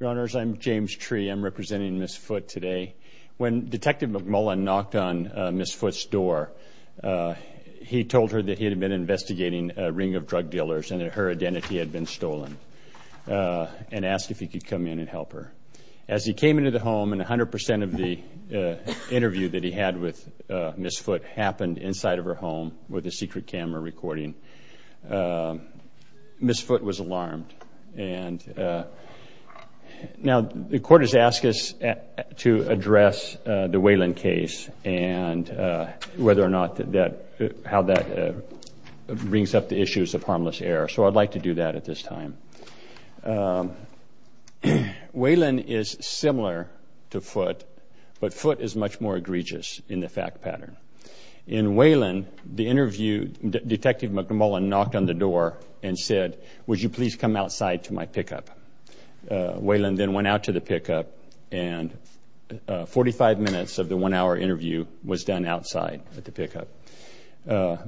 Your Honors, I'm James Tree. I'm representing Ms. Foote today. When Detective McMullin knocked on Ms. Foote's door, he told her that he had been investigating a ring of drug dealers and that her identity had been stolen and asked if he could come in and help her. As he came into the home, and 100% of the interview that he had with Ms. Foote happened inside of her home with a secret camera recording, Ms. Foote was alarmed. Now, the court has asked us to address the Whelan case and how that brings up the issues of harmless error, so I'd like to do that at this time. Whelan is similar to Foote, but Foote is much more egregious in the fact pattern. In Whelan, the interview, Detective McMullin knocked on the door and said, Would you please come outside to my pickup? Whelan then went out to the pickup, and 45 minutes of the one-hour interview was done outside at the pickup.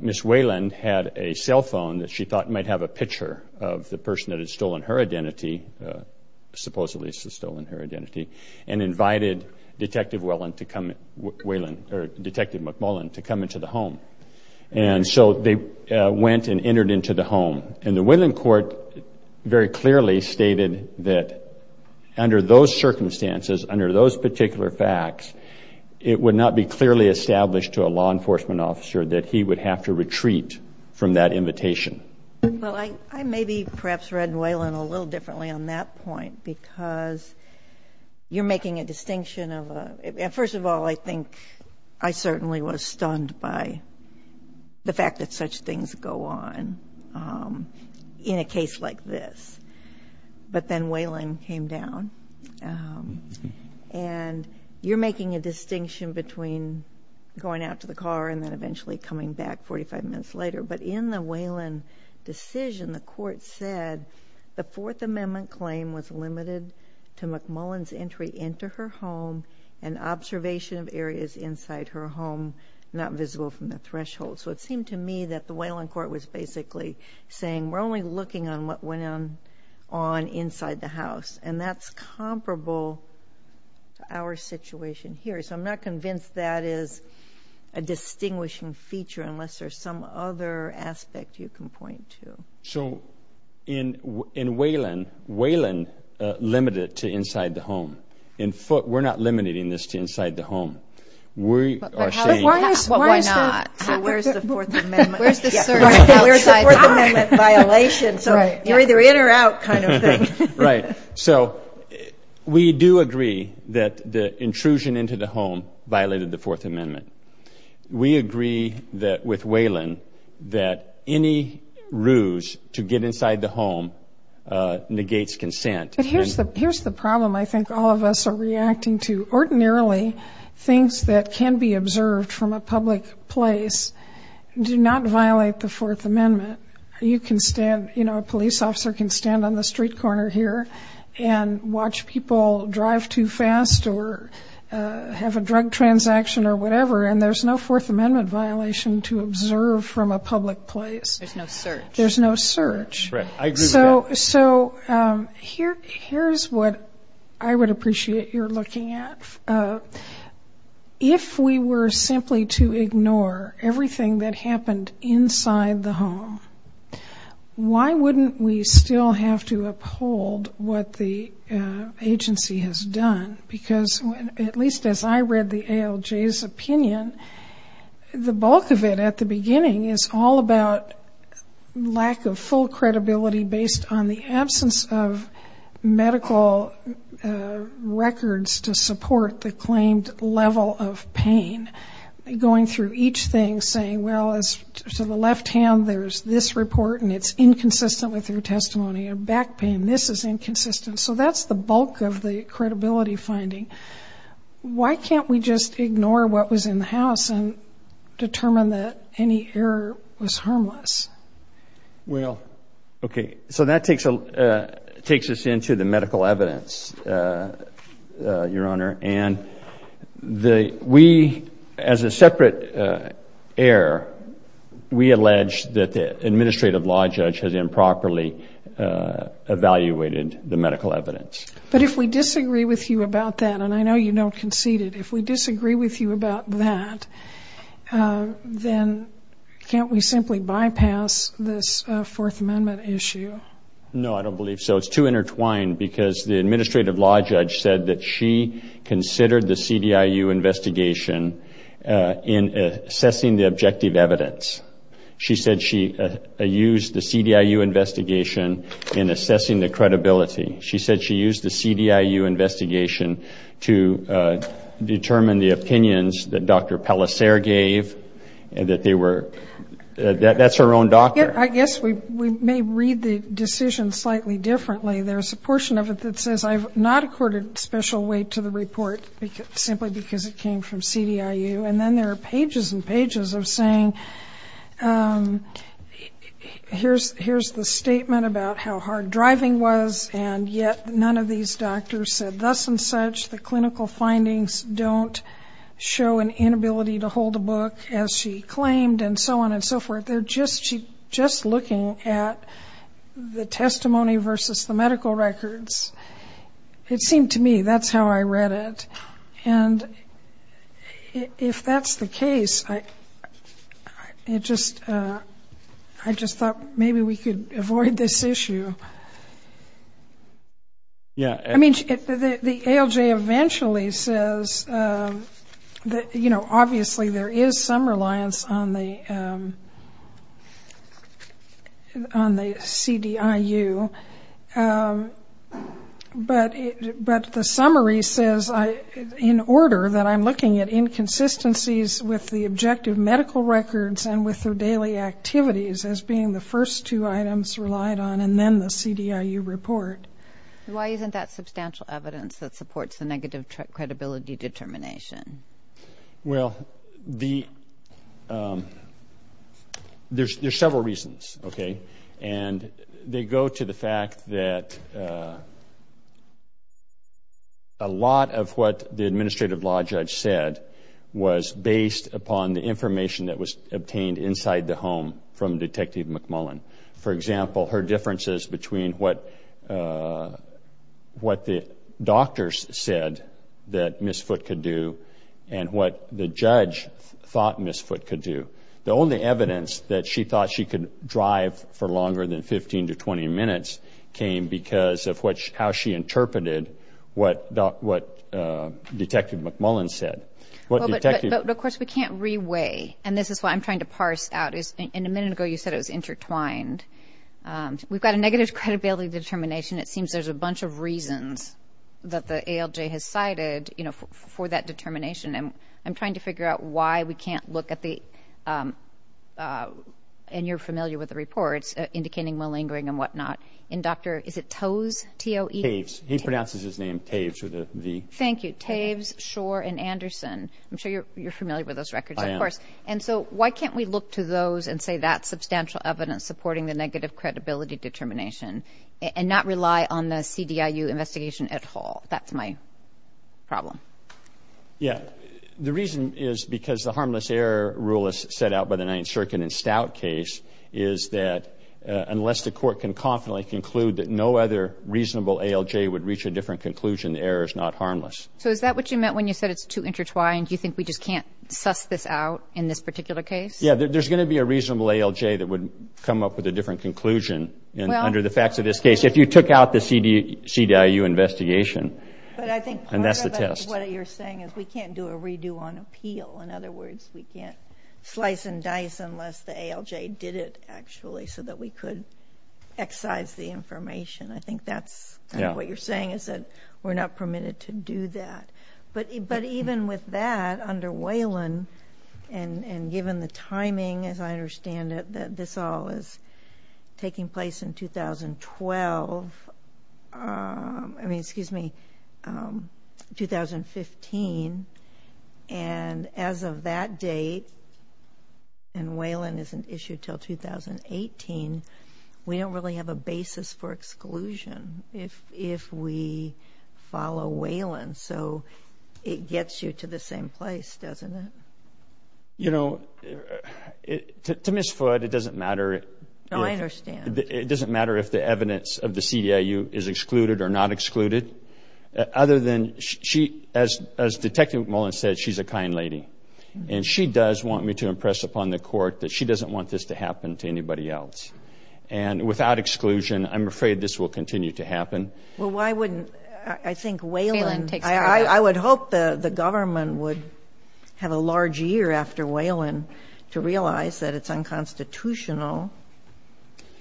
Ms. Whelan had a cell phone that she thought might have a picture of the person that had stolen her identity, supposedly stolen her identity, and invited Detective McMullin to come into the home. And so they went and entered into the home, and the Whelan court very clearly stated that under those circumstances, under those particular facts, it would not be clearly established to a law enforcement officer that he would have to retreat from that invitation. Well, I maybe perhaps read Whelan a little differently on that point because you're making a distinction of a – first of all, I think I certainly was stunned by the fact that such things go on in a case like this. But then Whelan came down, and you're making a distinction between going out to the car and then eventually coming back 45 minutes later. But in the Whelan decision, the court said the Fourth Amendment claim was limited to McMullin's entry into her home and observation of areas inside her home not visible from the threshold. So it seemed to me that the Whelan court was basically saying we're only looking on what went on inside the house, and that's comparable to our situation here. So I'm not convinced that is a distinguishing feature unless there's some other aspect you can point to. So in Whelan, Whelan limited it to inside the home. In Foote, we're not limiting this to inside the home. But why not? So where's the Fourth Amendment violation? So you're either in or out kind of thing. Right. So we do agree that the intrusion into the home violated the Fourth Amendment. We agree with Whelan that any ruse to get inside the home negates consent. But here's the problem I think all of us are reacting to. Ordinarily, things that can be observed from a public place do not violate the Fourth Amendment. You can stand, you know, a police officer can stand on the street corner here and watch people drive too fast or have a drug transaction or whatever, and there's no Fourth Amendment violation to observe from a public place. There's no search. There's no search. Right. I agree with that. So here's what I would appreciate your looking at. If we were simply to ignore everything that happened inside the home, why wouldn't we still have to uphold what the agency has done? Because at least as I read the ALJ's opinion, the bulk of it at the beginning is all about lack of full credibility based on the absence of medical records to support the claimed level of pain. Going through each thing saying, well, to the left hand there's this report and it's inconsistent with your testimony, a back pain, this is inconsistent. So that's the bulk of the credibility finding. Why can't we just ignore what was in the house and determine that any error was harmless? Well, okay, so that takes us into the medical evidence, Your Honor. And we, as a separate error, we allege that the administrative law judge has improperly evaluated the medical evidence. But if we disagree with you about that, and I know you don't concede it, if we disagree with you about that, then can't we simply bypass this Fourth Amendment issue? No, I don't believe so. No, it's too intertwined because the administrative law judge said that she considered the CDIU investigation in assessing the objective evidence. She said she used the CDIU investigation in assessing the credibility. She said she used the CDIU investigation to determine the opinions that Dr. Pellissere gave, that they were, that's her own doctor. I guess we may read the decision slightly differently. There's a portion of it that says, I've not accorded special weight to the report simply because it came from CDIU. And then there are pages and pages of saying, here's the statement about how hard driving was, and yet none of these doctors said thus and such. The clinical findings don't show an inability to hold a book, as she claimed, and so on and so forth. But they're just looking at the testimony versus the medical records. It seemed to me that's how I read it. And if that's the case, I just thought maybe we could avoid this issue. I mean, the ALJ eventually says that, you know, obviously there is some reliance on the CDIU, but the summary says in order that I'm looking at inconsistencies with the objective medical records and with their daily activities as being the first two items relied on and then the CDIU report. Why isn't that substantial evidence that supports the negative credibility determination? Well, there's several reasons, okay? And they go to the fact that a lot of what the administrative law judge said was based upon the information that was obtained inside the home from Detective McMullen. For example, her differences between what the doctors said that Ms. Foote could do and what the judge thought Ms. Foote could do. The only evidence that she thought she could drive for longer than 15 to 20 minutes came because of how she interpreted what Detective McMullen said. But, of course, we can't re-weigh, and this is what I'm trying to parse out. A minute ago you said it was intertwined. We've got a negative credibility determination. It seems there's a bunch of reasons that the ALJ has cited for that determination. I'm trying to figure out why we can't look at the, and you're familiar with the reports, indicating malingering and whatnot. And, Doctor, is it Toews, T-O-E? Toews. He pronounces his name Toews with a V. Thank you. Toews, Schor, and Anderson. I'm sure you're familiar with those records, of course. I am. And so why can't we look to those and say that's substantial evidence supporting the negative credibility determination and not rely on the CDIU investigation at all? That's my problem. Yeah. The reason is because the harmless error rule as set out by the 9th Circuit and Stout case is that unless the court can confidently conclude that no other reasonable ALJ would reach a different conclusion, the error is not harmless. So is that what you meant when you said it's too intertwined? Do you think we just can't suss this out in this particular case? Yeah. There's going to be a reasonable ALJ that would come up with a different conclusion under the facts of this case if you took out the CDIU investigation. And that's the test. But I think part of what you're saying is we can't do a redo on appeal. In other words, we can't slice and dice unless the ALJ did it actually so that we could excise the information. I think that's kind of what you're saying is that we're not permitted to do that. But even with that, under Whalen and given the timing, as I understand it, that this all is taking place in 2012. I mean, excuse me, 2015. And as of that date, and Whalen isn't issued until 2018, we don't really have a basis for exclusion if we follow Whalen. So it gets you to the same place, doesn't it? You know, to Ms. Foote, it doesn't matter. No, I understand. It doesn't matter if the evidence of the CDIU is excluded or not excluded, other than she, as Detective McMullen said, she's a kind lady. And she does want me to impress upon the Court that she doesn't want this to happen to anybody else. And without exclusion, I'm afraid this will continue to happen. Well, why wouldn't, I think, Whalen. I would hope the government would have a large year after Whalen to realize that it's unconstitutional,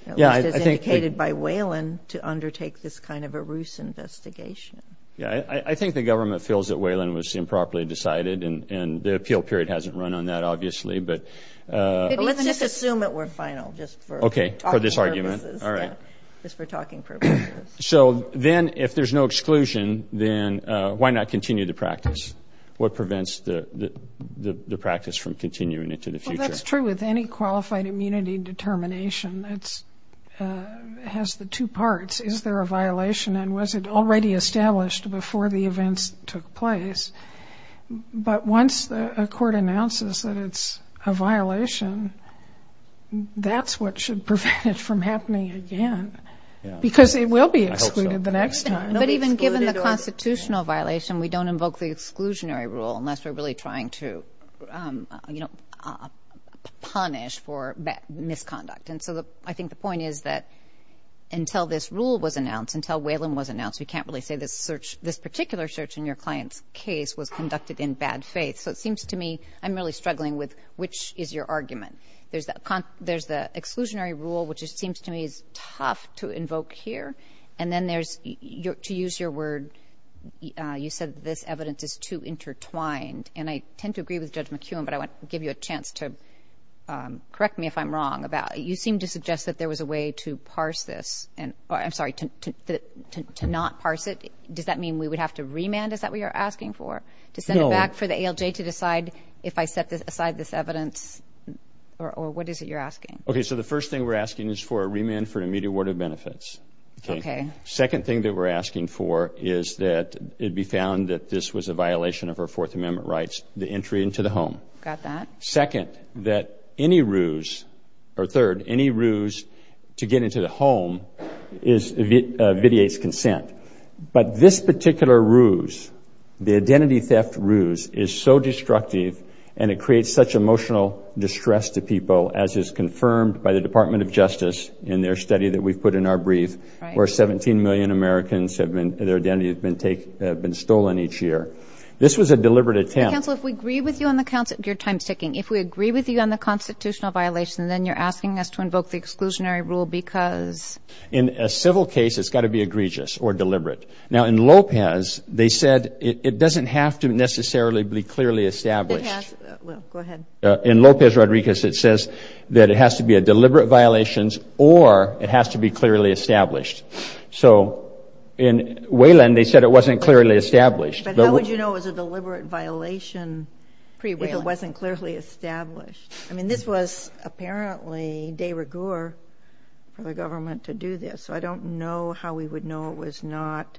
at least as indicated by Whalen, to undertake this kind of a ruse investigation. Yeah, I think the government feels that Whalen was improperly decided, and the appeal period hasn't run on that, obviously. But let's just assume that we're final, just for talking purposes. Okay, for this argument. Just for talking purposes. So then, if there's no exclusion, then why not continue the practice? What prevents the practice from continuing into the future? Well, that's true with any qualified immunity determination. It has the two parts. Is there a violation, and was it already established before the events took place? But once a court announces that it's a violation, that's what should prevent it from happening again. Because it will be excluded the next time. But even given the constitutional violation, we don't invoke the exclusionary rule unless we're really trying to punish for misconduct. And so I think the point is that until this rule was announced, until Whalen was announced, we can't really say this particular search in your client's case was conducted in bad faith. So it seems to me I'm really struggling with which is your argument. There's the exclusionary rule, which it seems to me is tough to invoke here. And then there's, to use your word, you said this evidence is too intertwined. And I tend to agree with Judge McEwen, but I want to give you a chance to correct me if I'm wrong. You seem to suggest that there was a way to parse this. I'm sorry, to not parse it. Does that mean we would have to remand? Is that what you're asking for? To send it back for the ALJ to decide if I set aside this evidence? Or what is it you're asking? Okay, so the first thing we're asking is for a remand for an immediate award of benefits. Okay. Second thing that we're asking for is that it be found that this was a violation of our Fourth Amendment rights, the entry into the home. Got that. Second, that any ruse, or third, any ruse to get into the home is vitiates consent. But this particular ruse, the identity theft ruse, is so destructive, and it creates such emotional distress to people, as is confirmed by the Department of Justice in their study that we've put in our brief, where 17 million Americans, their identities have been stolen each year. This was a deliberate attempt. Counsel, if we agree with you on the constitutional violation, then you're asking us to invoke the exclusionary rule because? In a civil case, it's got to be egregious or deliberate. Now, in Lopez, they said it doesn't have to necessarily be clearly established. It has. Well, go ahead. In Lopez-Rodriguez, it says that it has to be a deliberate violation or it has to be clearly established. So in Wayland, they said it wasn't clearly established. But how would you know it was a deliberate violation if it wasn't clearly established? I mean, this was apparently de rigueur for the government to do this. So I don't know how we would know it was not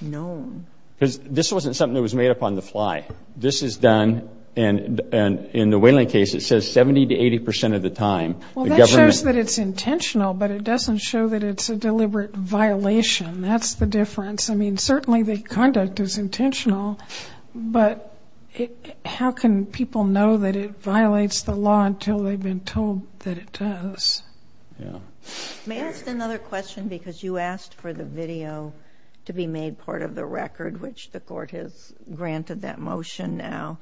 known. Because this wasn't something that was made up on the fly. This is done, and in the Wayland case, it says 70 to 80 percent of the time. Well, that shows that it's intentional, but it doesn't show that it's a deliberate violation. That's the difference. I mean, certainly the conduct is intentional, but how can people know that it violates the law until they've been told that it does? May I ask another question? Because you asked for the video to be made part of the record, which the court has granted that motion now.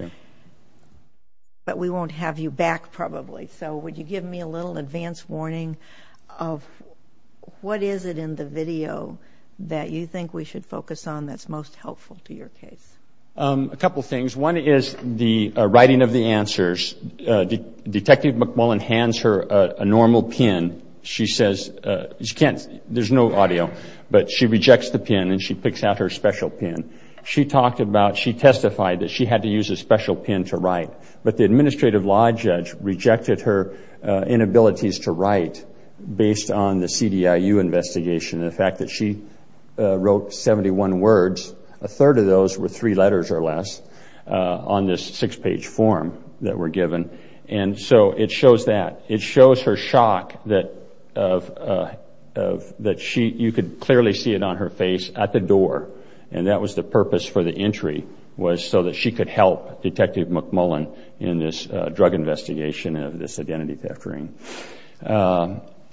But we won't have you back, probably. So would you give me a little advance warning of what is it in the video that you think we should focus on that's most helpful to your case? A couple things. One is the writing of the answers. Detective McMullen hands her a normal pen. She says she can't, there's no audio, but she rejects the pen and she picks out her special pen. She talked about, she testified that she had to use a special pen to write, but the administrative law judge rejected her inabilities to write based on the CDIU investigation and the fact that she wrote 71 words. A third of those were three letters or less on this six-page form that were given. And so it shows that. It shows her shock that you could clearly see it on her face at the door, and that was the purpose for the entry was so that she could help Detective McMullen in this drug investigation of this identity theft ring.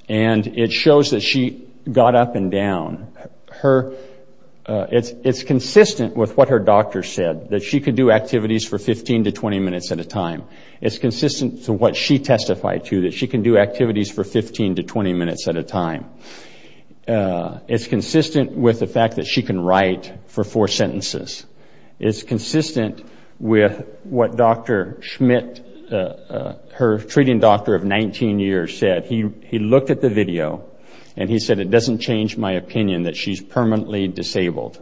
And it shows that she got up and down. It's consistent with what her doctor said, that she could do activities for 15 to 20 minutes at a time. It's consistent to what she testified to, that she can do activities for 15 to 20 minutes at a time. It's consistent with the fact that she can write for four sentences. It's consistent with what Dr. Schmidt, her treating doctor of 19 years, said. He looked at the video and he said, it doesn't change my opinion that she's permanently disabled.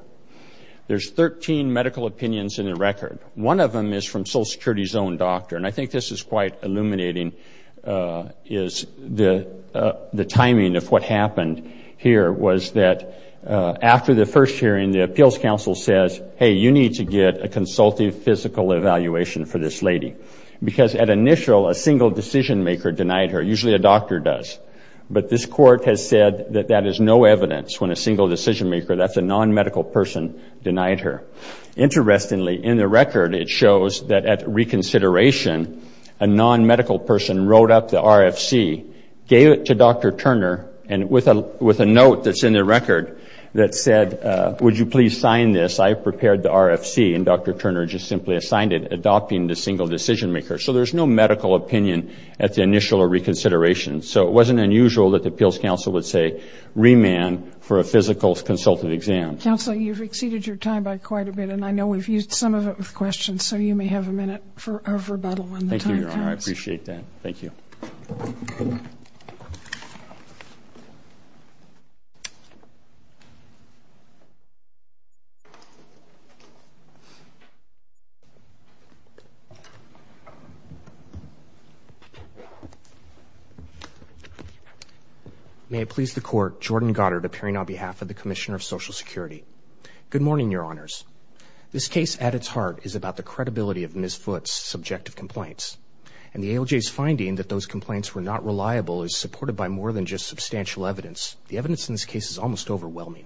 There's 13 medical opinions in the record. One of them is from Social Security's own doctor, and I think this is quite illuminating, is the timing of what happened here was that after the first hearing, the appeals council says, hey, you need to get a consultative physical evaluation for this lady. Because at initial, a single decision-maker denied her. Usually a doctor does. But this court has said that that is no evidence when a single decision-maker, that's a non-medical person, denied her. Interestingly, in the record, it shows that at reconsideration, a non-medical person wrote up the RFC, gave it to Dr. Turner, and with a note that's in the record that said, would you please sign this, I've prepared the RFC, and Dr. Turner just simply assigned it, adopting the single decision-maker. So there's no medical opinion at the initial reconsideration. So it wasn't unusual that the appeals council would say, remand for a physical consultative exam. Counsel, you've exceeded your time by quite a bit, and I know we've used some of it with questions, so you may have a minute of rebuttal when the time comes. Thank you, Your Honor. I appreciate that. Thank you. May it please the court, Jordan Goddard, appearing on behalf of the Commissioner of Social Security. Good morning, Your Honors. This case, at its heart, is about the credibility of Ms. Foote's subjective complaints, and the ALJ's finding that those complaints were not reliable is supported by more than just substantial evidence. The evidence in this case is almost overwhelming.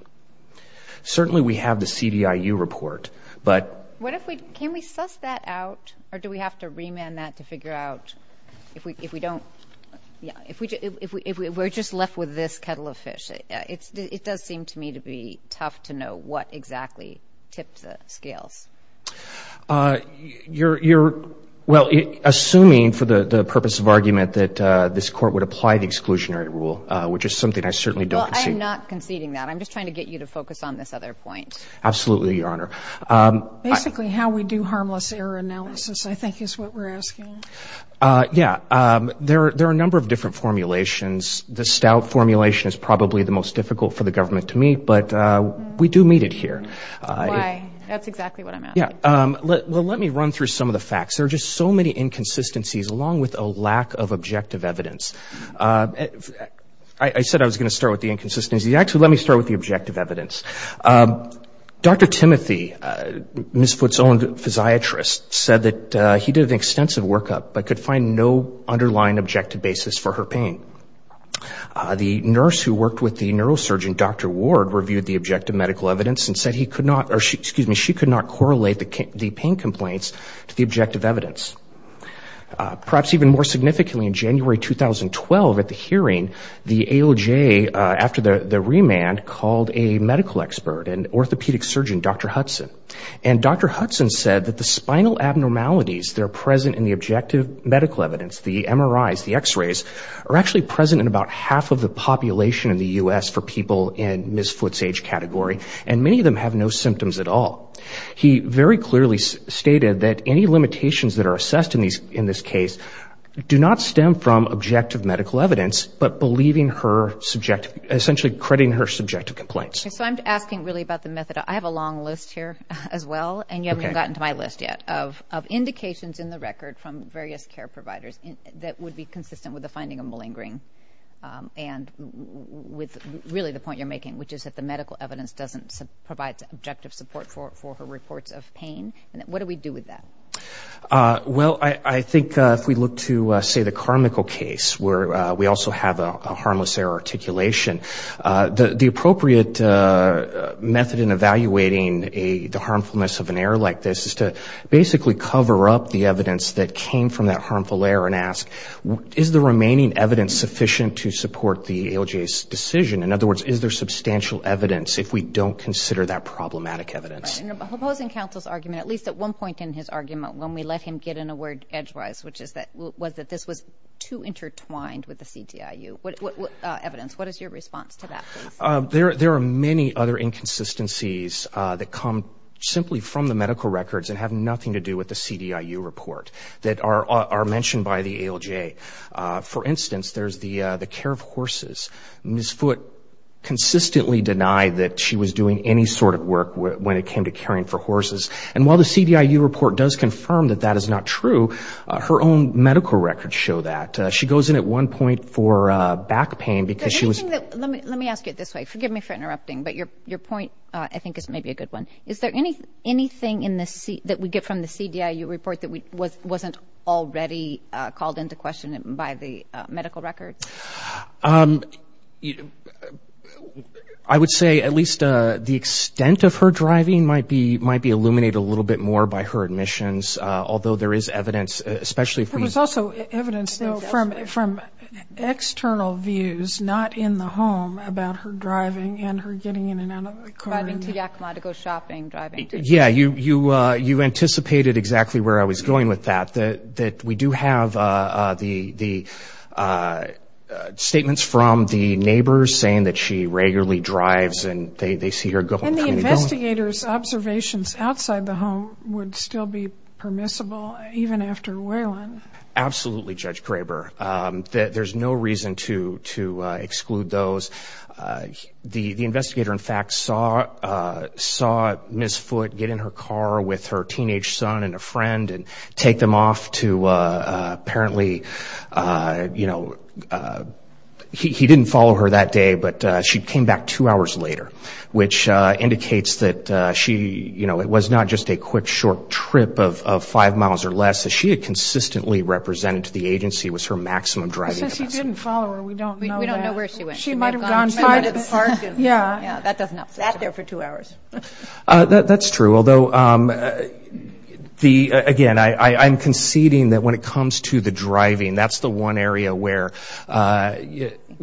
Certainly we have the CDIU report, but... What if we, can we suss that out, or do we have to remand that to figure out if we don't, if we're just left with this kettle of fish? It does seem to me to be tough to know what exactly tipped the scales. You're, well, assuming for the purpose of argument that this court would apply the exclusionary rule, which is something I certainly don't concede. Well, I'm not conceding that. I'm just trying to get you to focus on this other point. Absolutely, Your Honor. Basically how we do harmless error analysis, I think, is what we're asking. Yeah. There are a number of different formulations. The Stout formulation is probably the most difficult for the government to meet, but we do meet it here. Why? That's exactly what I'm asking. Well, let me run through some of the facts. There are just so many inconsistencies, along with a lack of objective evidence. I said I was going to start with the inconsistencies. Actually, let me start with the objective evidence. Dr. Timothy, Ms. Foote's own physiatrist, said that he did an extensive workup, but could find no underlying objective basis for her pain. The nurse who worked with the neurosurgeon, Dr. Ward, reviewed the objective medical evidence and she could not correlate the pain complaints to the objective evidence. Perhaps even more significantly, in January 2012, at the hearing, the AOJ, after the remand, called a medical expert, an orthopedic surgeon, Dr. Hudson. And Dr. Hudson said that the spinal abnormalities that are present in the objective medical evidence, the MRIs, the X-rays, are actually present in about half of the population in the U.S. for people in Ms. Foote's age category. And many of them have no symptoms at all. He very clearly stated that any limitations that are assessed in this case do not stem from objective medical evidence, but believing her subjective, essentially crediting her subjective complaints. So I'm asking really about the method. I have a long list here as well, and you haven't gotten to my list yet, of indications in the record from various care providers that would be consistent with the finding of malingering. And with really the point you're making, which is that the medical evidence doesn't provide objective support for her reports of pain. What do we do with that? Well, I think if we look to, say, the Carmichael case, where we also have a harmless error articulation, the appropriate method in evaluating the harmfulness of an error like this is to basically cover up the evidence that came from that harmful error and ask, is the remaining evidence sufficient to support the ALJ's decision? In other words, is there substantial evidence if we don't consider that problematic evidence? Opposing counsel's argument, at least at one point in his argument, when we let him get in a word edgewise, which was that this was too intertwined with the CDIU evidence. What is your response to that? There are many other inconsistencies that come simply from the medical records and have nothing to do with the CDIU report that are mentioned by the ALJ. For instance, there's the care of horses. Ms. Foote consistently denied that she was doing any sort of work when it came to caring for horses. And while the CDIU report does confirm that that is not true, her own medical records show that. She goes in at one point for back pain because she was... Let me ask you it this way. Forgive me for interrupting, but your point, I think, is maybe a good one. Is there anything that we get from the CDIU report that wasn't already called into question by the medical records? I would say at least the extent of her driving might be illuminated a little bit more by her admissions, although there is evidence, especially if we... There was also evidence from external views, not in the home, about her driving and her getting in and out of the car. Driving to Yakima to go shopping, driving to... Yeah, you anticipated exactly where I was going with that, that we do have the statements from the neighbors saying that she regularly drives and they see her... And the investigator's observations outside the home would still be permissible even after Waylon? Absolutely, Judge Graber. There's no reason to exclude those. The investigator, in fact, saw Ms. Foote get in her car with her teenage son and a friend and take them off to apparently... He didn't follow her that day, but she came back two hours later, which indicates that she... It was not just a quick, short trip of five miles or less. She had consistently represented to the agency was her maximum driving capacity. He says he didn't follow her. We don't know that. She might have gone... Yeah. Sat there for two hours. That's true. Although, again, I'm conceding that when it comes to the driving, that's the one area where,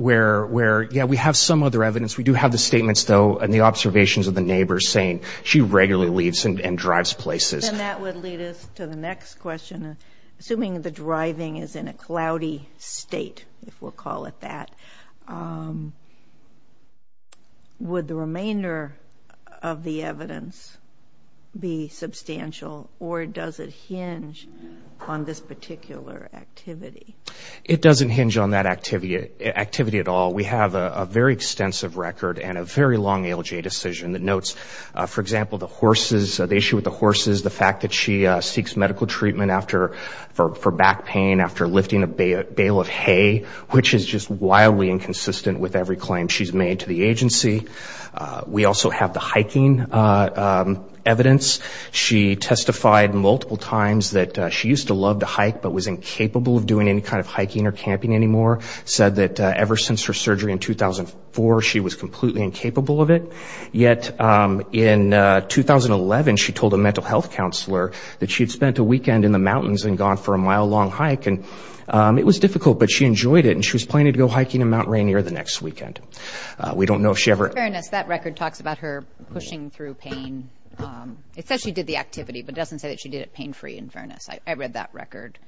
yeah, we have some other evidence. We do have the statements, though, and the observations of the neighbors saying she regularly leaves and drives places. And that would lead us to the next question. Assuming the driving is in a cloudy state, if we'll call it that, would the remainder of the evidence be substantial or does it hinge on this particular activity? It doesn't hinge on that activity at all. We have a very extensive record and a very long ALJ decision that notes, for example, the horses, the issue with the horses, the fact that she seeks medical treatment for back pain after lifting a bale of hay, which is just wildly inconsistent with every claim she's made to the agency. We also have the hiking evidence. She testified multiple times that she used to love to hike but was incapable of doing any kind of hiking or camping anymore. Said that ever since her surgery in 2004, she was completely incapable of it. Yet in 2011, she told a mental health counselor that she had spent a weekend in the mountains and gone for a mile-long hike. And it was difficult, but she enjoyed it, and she was planning to go hiking in Mount Rainier the next weekend. We don't know if she ever... In fairness, that record talks about her pushing through pain. It says she did the activity, but it doesn't say that she did it pain-free, in fairness. I read that record.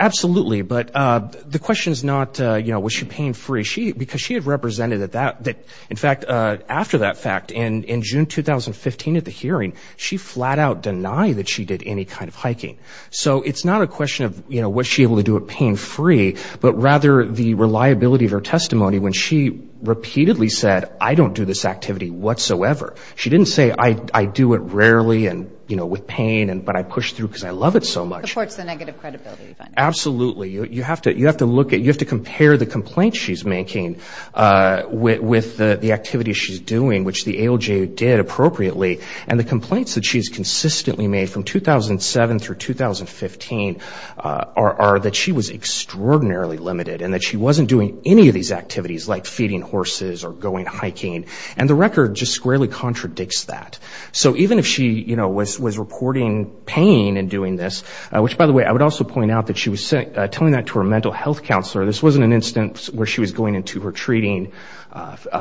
Absolutely, but the question is not, you know, was she pain-free. Because she had represented that, in fact, after that fact, in June 2015 at the hearing, she flat-out denied that she did any kind of hiking. So it's not a question of, you know, was she able to do it pain-free, but rather the reliability of her testimony when she repeatedly said, I don't do this activity whatsoever. She didn't say, I do it rarely and, you know, with pain, but I push through because I love it so much. Supports the negative credibility finding. Absolutely. You have to look at... You have to compare the complaints she's making with the activity she's doing, which the ALJ did appropriately. And the complaints that she's consistently made from 2007 through 2015 are that she was extraordinarily limited and that she wasn't doing any of these activities, like feeding horses or going hiking. And the record just squarely contradicts that. So even if she, you know, was reporting pain in doing this, which, by the way, I would also point out that she was telling that to her mental health counselor. This wasn't an instance where she was going into her treating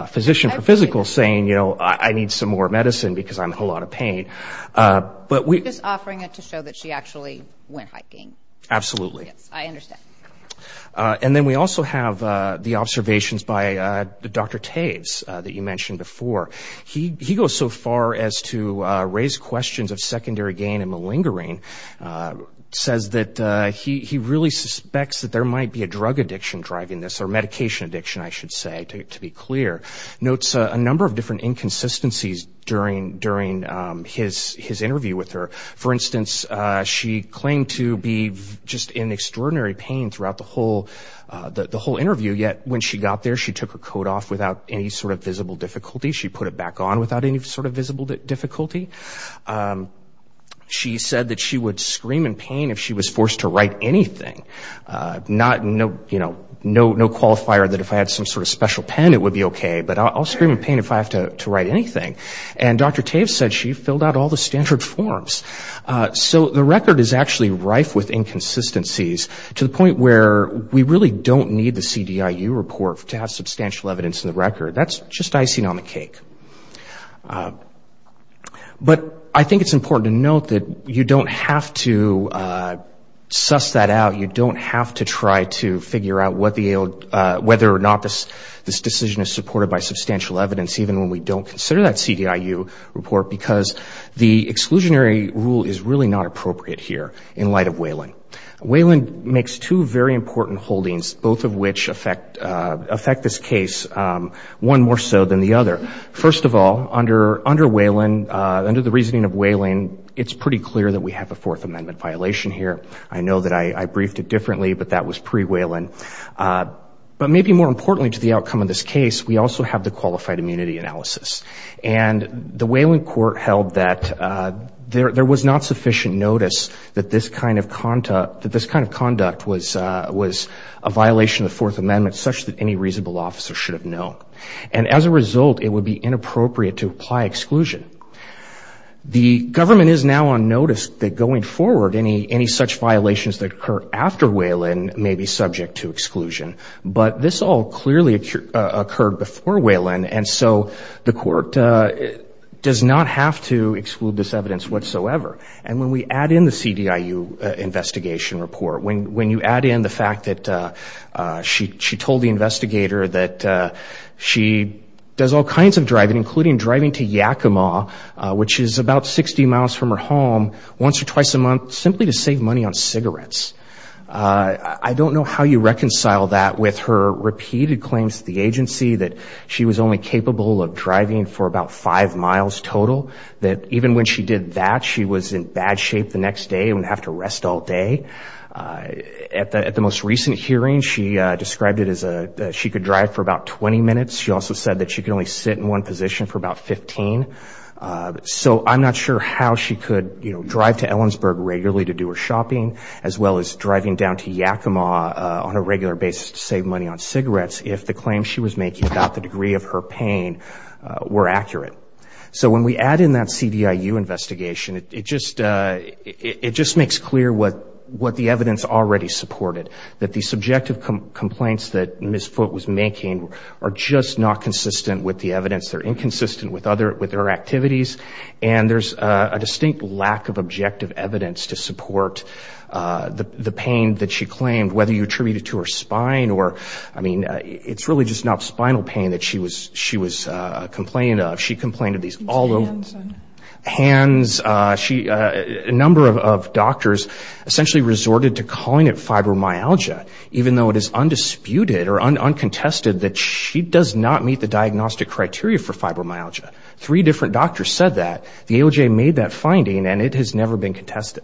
physician for physical saying, you know, I need some more medicine because I'm in a whole lot of pain. But we... Just offering it to show that she actually went hiking. Absolutely. Yes, I understand. And then we also have the observations by Dr. Taves that you mentioned before. He goes so far as to raise questions of secondary gain and malingering says that he really suspects that there might be a drug addiction driving this or medication addiction, I should say, to be clear. Notes a number of different inconsistencies during his interview with her. For instance, she claimed to be just in extraordinary pain throughout the whole interview, yet when she got there she took her coat off without any sort of visible difficulty. She put it back on without any sort of visible difficulty. She said that she would scream in pain if she was forced to write anything. No qualifier that if I had some sort of special pen it would be okay, but I'll scream in pain if I have to write anything. And Dr. Taves said she filled out all the standard forms. So the record is actually rife with inconsistencies to the point where we really don't need the CDIU report to have substantial evidence in the record. That's just icing on the cake. But I think it's important to note that you don't have to suss that out. You don't have to try to figure out whether or not this decision is supported by substantial evidence, even when we don't consider that CDIU report, because the exclusionary rule is really not appropriate here in light of Whelan. Whelan makes two very important holdings, both of which affect this case one more so than the other. First of all, under Whelan, under the reasoning of Whelan, it's pretty clear that we have a Fourth Amendment violation here. I know that I briefed it differently, but that was pre-Whelan. But maybe more importantly to the outcome of this case, we also have the qualified immunity analysis. And the Whelan court held that there was not sufficient notice that this kind of conduct was a violation of the Fourth Amendment such that any reasonable officer should have known. And as a result, it would be inappropriate to apply exclusion. The government is now on notice that going forward, any such violations that occur after Whelan may be subject to exclusion. But this all clearly occurred before Whelan, and so the court does not have to exclude this evidence whatsoever. And when we add in the CDIU investigation report, when you add in the fact that she told the investigator that she does all kinds of driving, including driving to Yakima, which is about 60 miles from her home, once or twice a month, simply to save money on cigarettes. I don't know how you reconcile that with her repeated claims to the agency that she was only capable of driving for about five miles total, that even when she did that, she was in bad shape the next day and would have to rest all day. At the most recent hearing, she described it as she could drive for about 20 minutes. She also said that she could only sit in one position for about 15. So I'm not sure how she could drive to Ellensburg regularly to do her shopping, as well as driving down to Yakima on a regular basis to save money on cigarettes, if the claims she was making about the degree of her pain were accurate. So when we add in that CDIU investigation, it just makes clear what the evidence already supported, that the subjective complaints that Ms. Foote was making are just not consistent with the evidence. They're inconsistent with her activities, and there's a distinct lack of objective evidence to support the pain that she claimed, whether you attribute it to her spine or, I mean, it's really just not spinal pain that she was complaining of. She complained of these all over. Hands. A number of doctors essentially resorted to calling it fibromyalgia, even though it is undisputed or uncontested that she does not meet the diagnostic criteria for fibromyalgia. Three different doctors said that. The AOJ made that finding, and it has never been contested.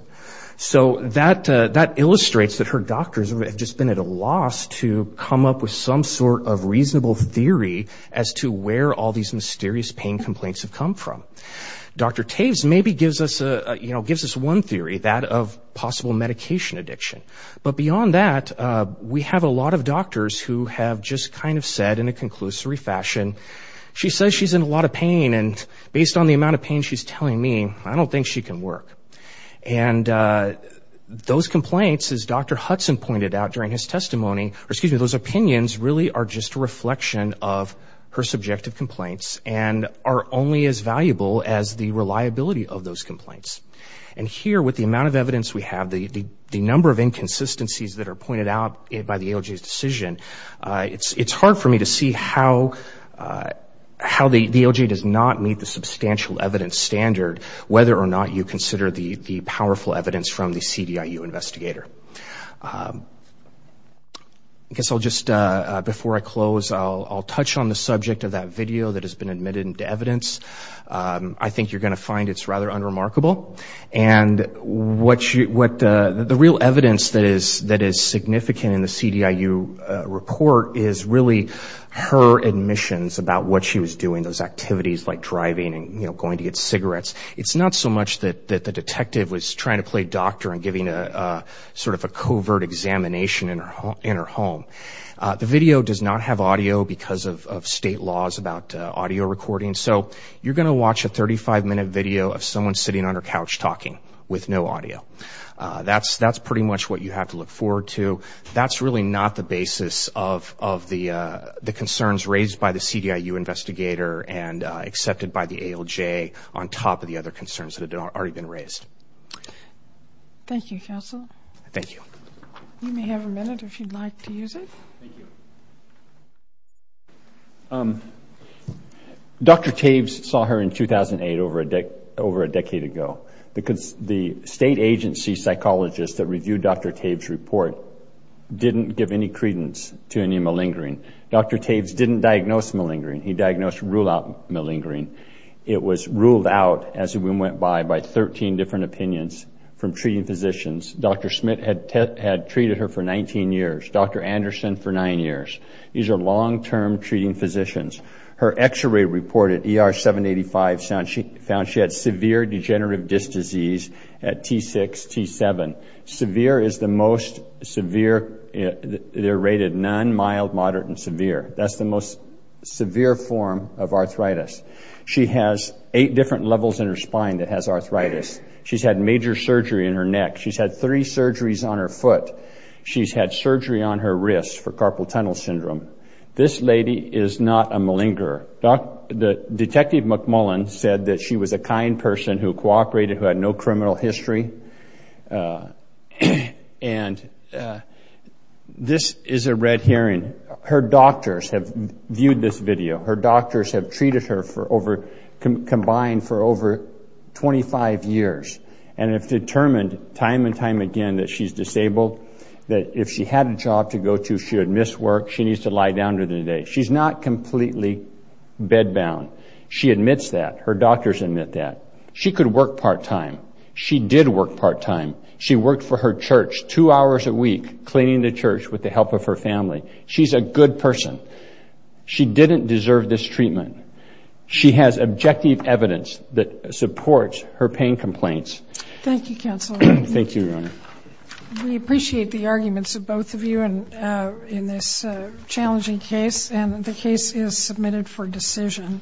So that illustrates that her doctors have just been at a loss to come up with some sort of reasonable theory as to where all these mysterious pain complaints have come from. Dr. Taves maybe gives us one theory, that of possible medication addiction. But beyond that, we have a lot of doctors who have just kind of said in a conclusory fashion, she says she's in a lot of pain, and based on the amount of pain she's telling me, I don't think she can work. And those complaints, as Dr. Hudson pointed out during his testimony, those opinions really are just a reflection of her subjective complaints and are only as valuable as the reliability of those complaints. And here, with the amount of evidence we have, the number of inconsistencies that are pointed out by the AOJ's decision, it's hard for me to see how the AOJ does not meet the substantial evidence standard, whether or not you consider the powerful evidence from the CDIU investigator. I guess I'll just, before I close, I'll touch on the subject of that video that has been admitted into evidence. I think you're going to find it's rather unremarkable. And the real evidence that is significant in the CDIU report is really her admissions about what she was doing, those activities like driving and going to get cigarettes. It's not so much that the detective was trying to play doctor and giving sort of a covert examination in her home. The video does not have audio because of state laws about audio recording. So you're going to watch a 35-minute video of someone sitting on her couch talking with no audio. That's pretty much what you have to look forward to. So that's really not the basis of the concerns raised by the CDIU investigator and accepted by the AOJ on top of the other concerns that have already been raised. Thank you, counsel. Thank you. You may have a minute if you'd like to use it. Dr. Tabes saw her in 2008 over a decade ago. The state agency psychologist that reviewed Dr. Tabes' report didn't give any credence to any malingering. Dr. Tabes didn't diagnose malingering. He diagnosed rule-out malingering. It was ruled out, as the wind went by, by 13 different opinions from treating physicians. Dr. Smith had treated her for 19 years, Dr. Anderson for 9 years. These are long-term treating physicians. Her X-ray report at ER 785 found she had severe degenerative disc disease at T6, T7. Severe is the most severe. They're rated none, mild, moderate, and severe. That's the most severe form of arthritis. She has eight different levels in her spine that has arthritis. She's had major surgery in her neck. She's had three surgeries on her foot. She's had surgery on her wrist for carpal tunnel syndrome. This lady is not a malingerer. Detective McMullen said that she was a kind person who cooperated, who had no criminal history. And this is a red herring. Her doctors have viewed this video. Her doctors have treated her combined for over 25 years and have determined time and time again that she's disabled, that if she had a job to go to, she would miss work, she needs to lie down during the day. She's not completely bed-bound. She admits that. Her doctors admit that. She could work part-time. She did work part-time. She worked for her church two hours a week cleaning the church with the help of her family. She's a good person. She didn't deserve this treatment. Thank you, Counsel. Thank you, Your Honor. We appreciate the arguments of both of you in this challenging case, and the case is submitted for decision.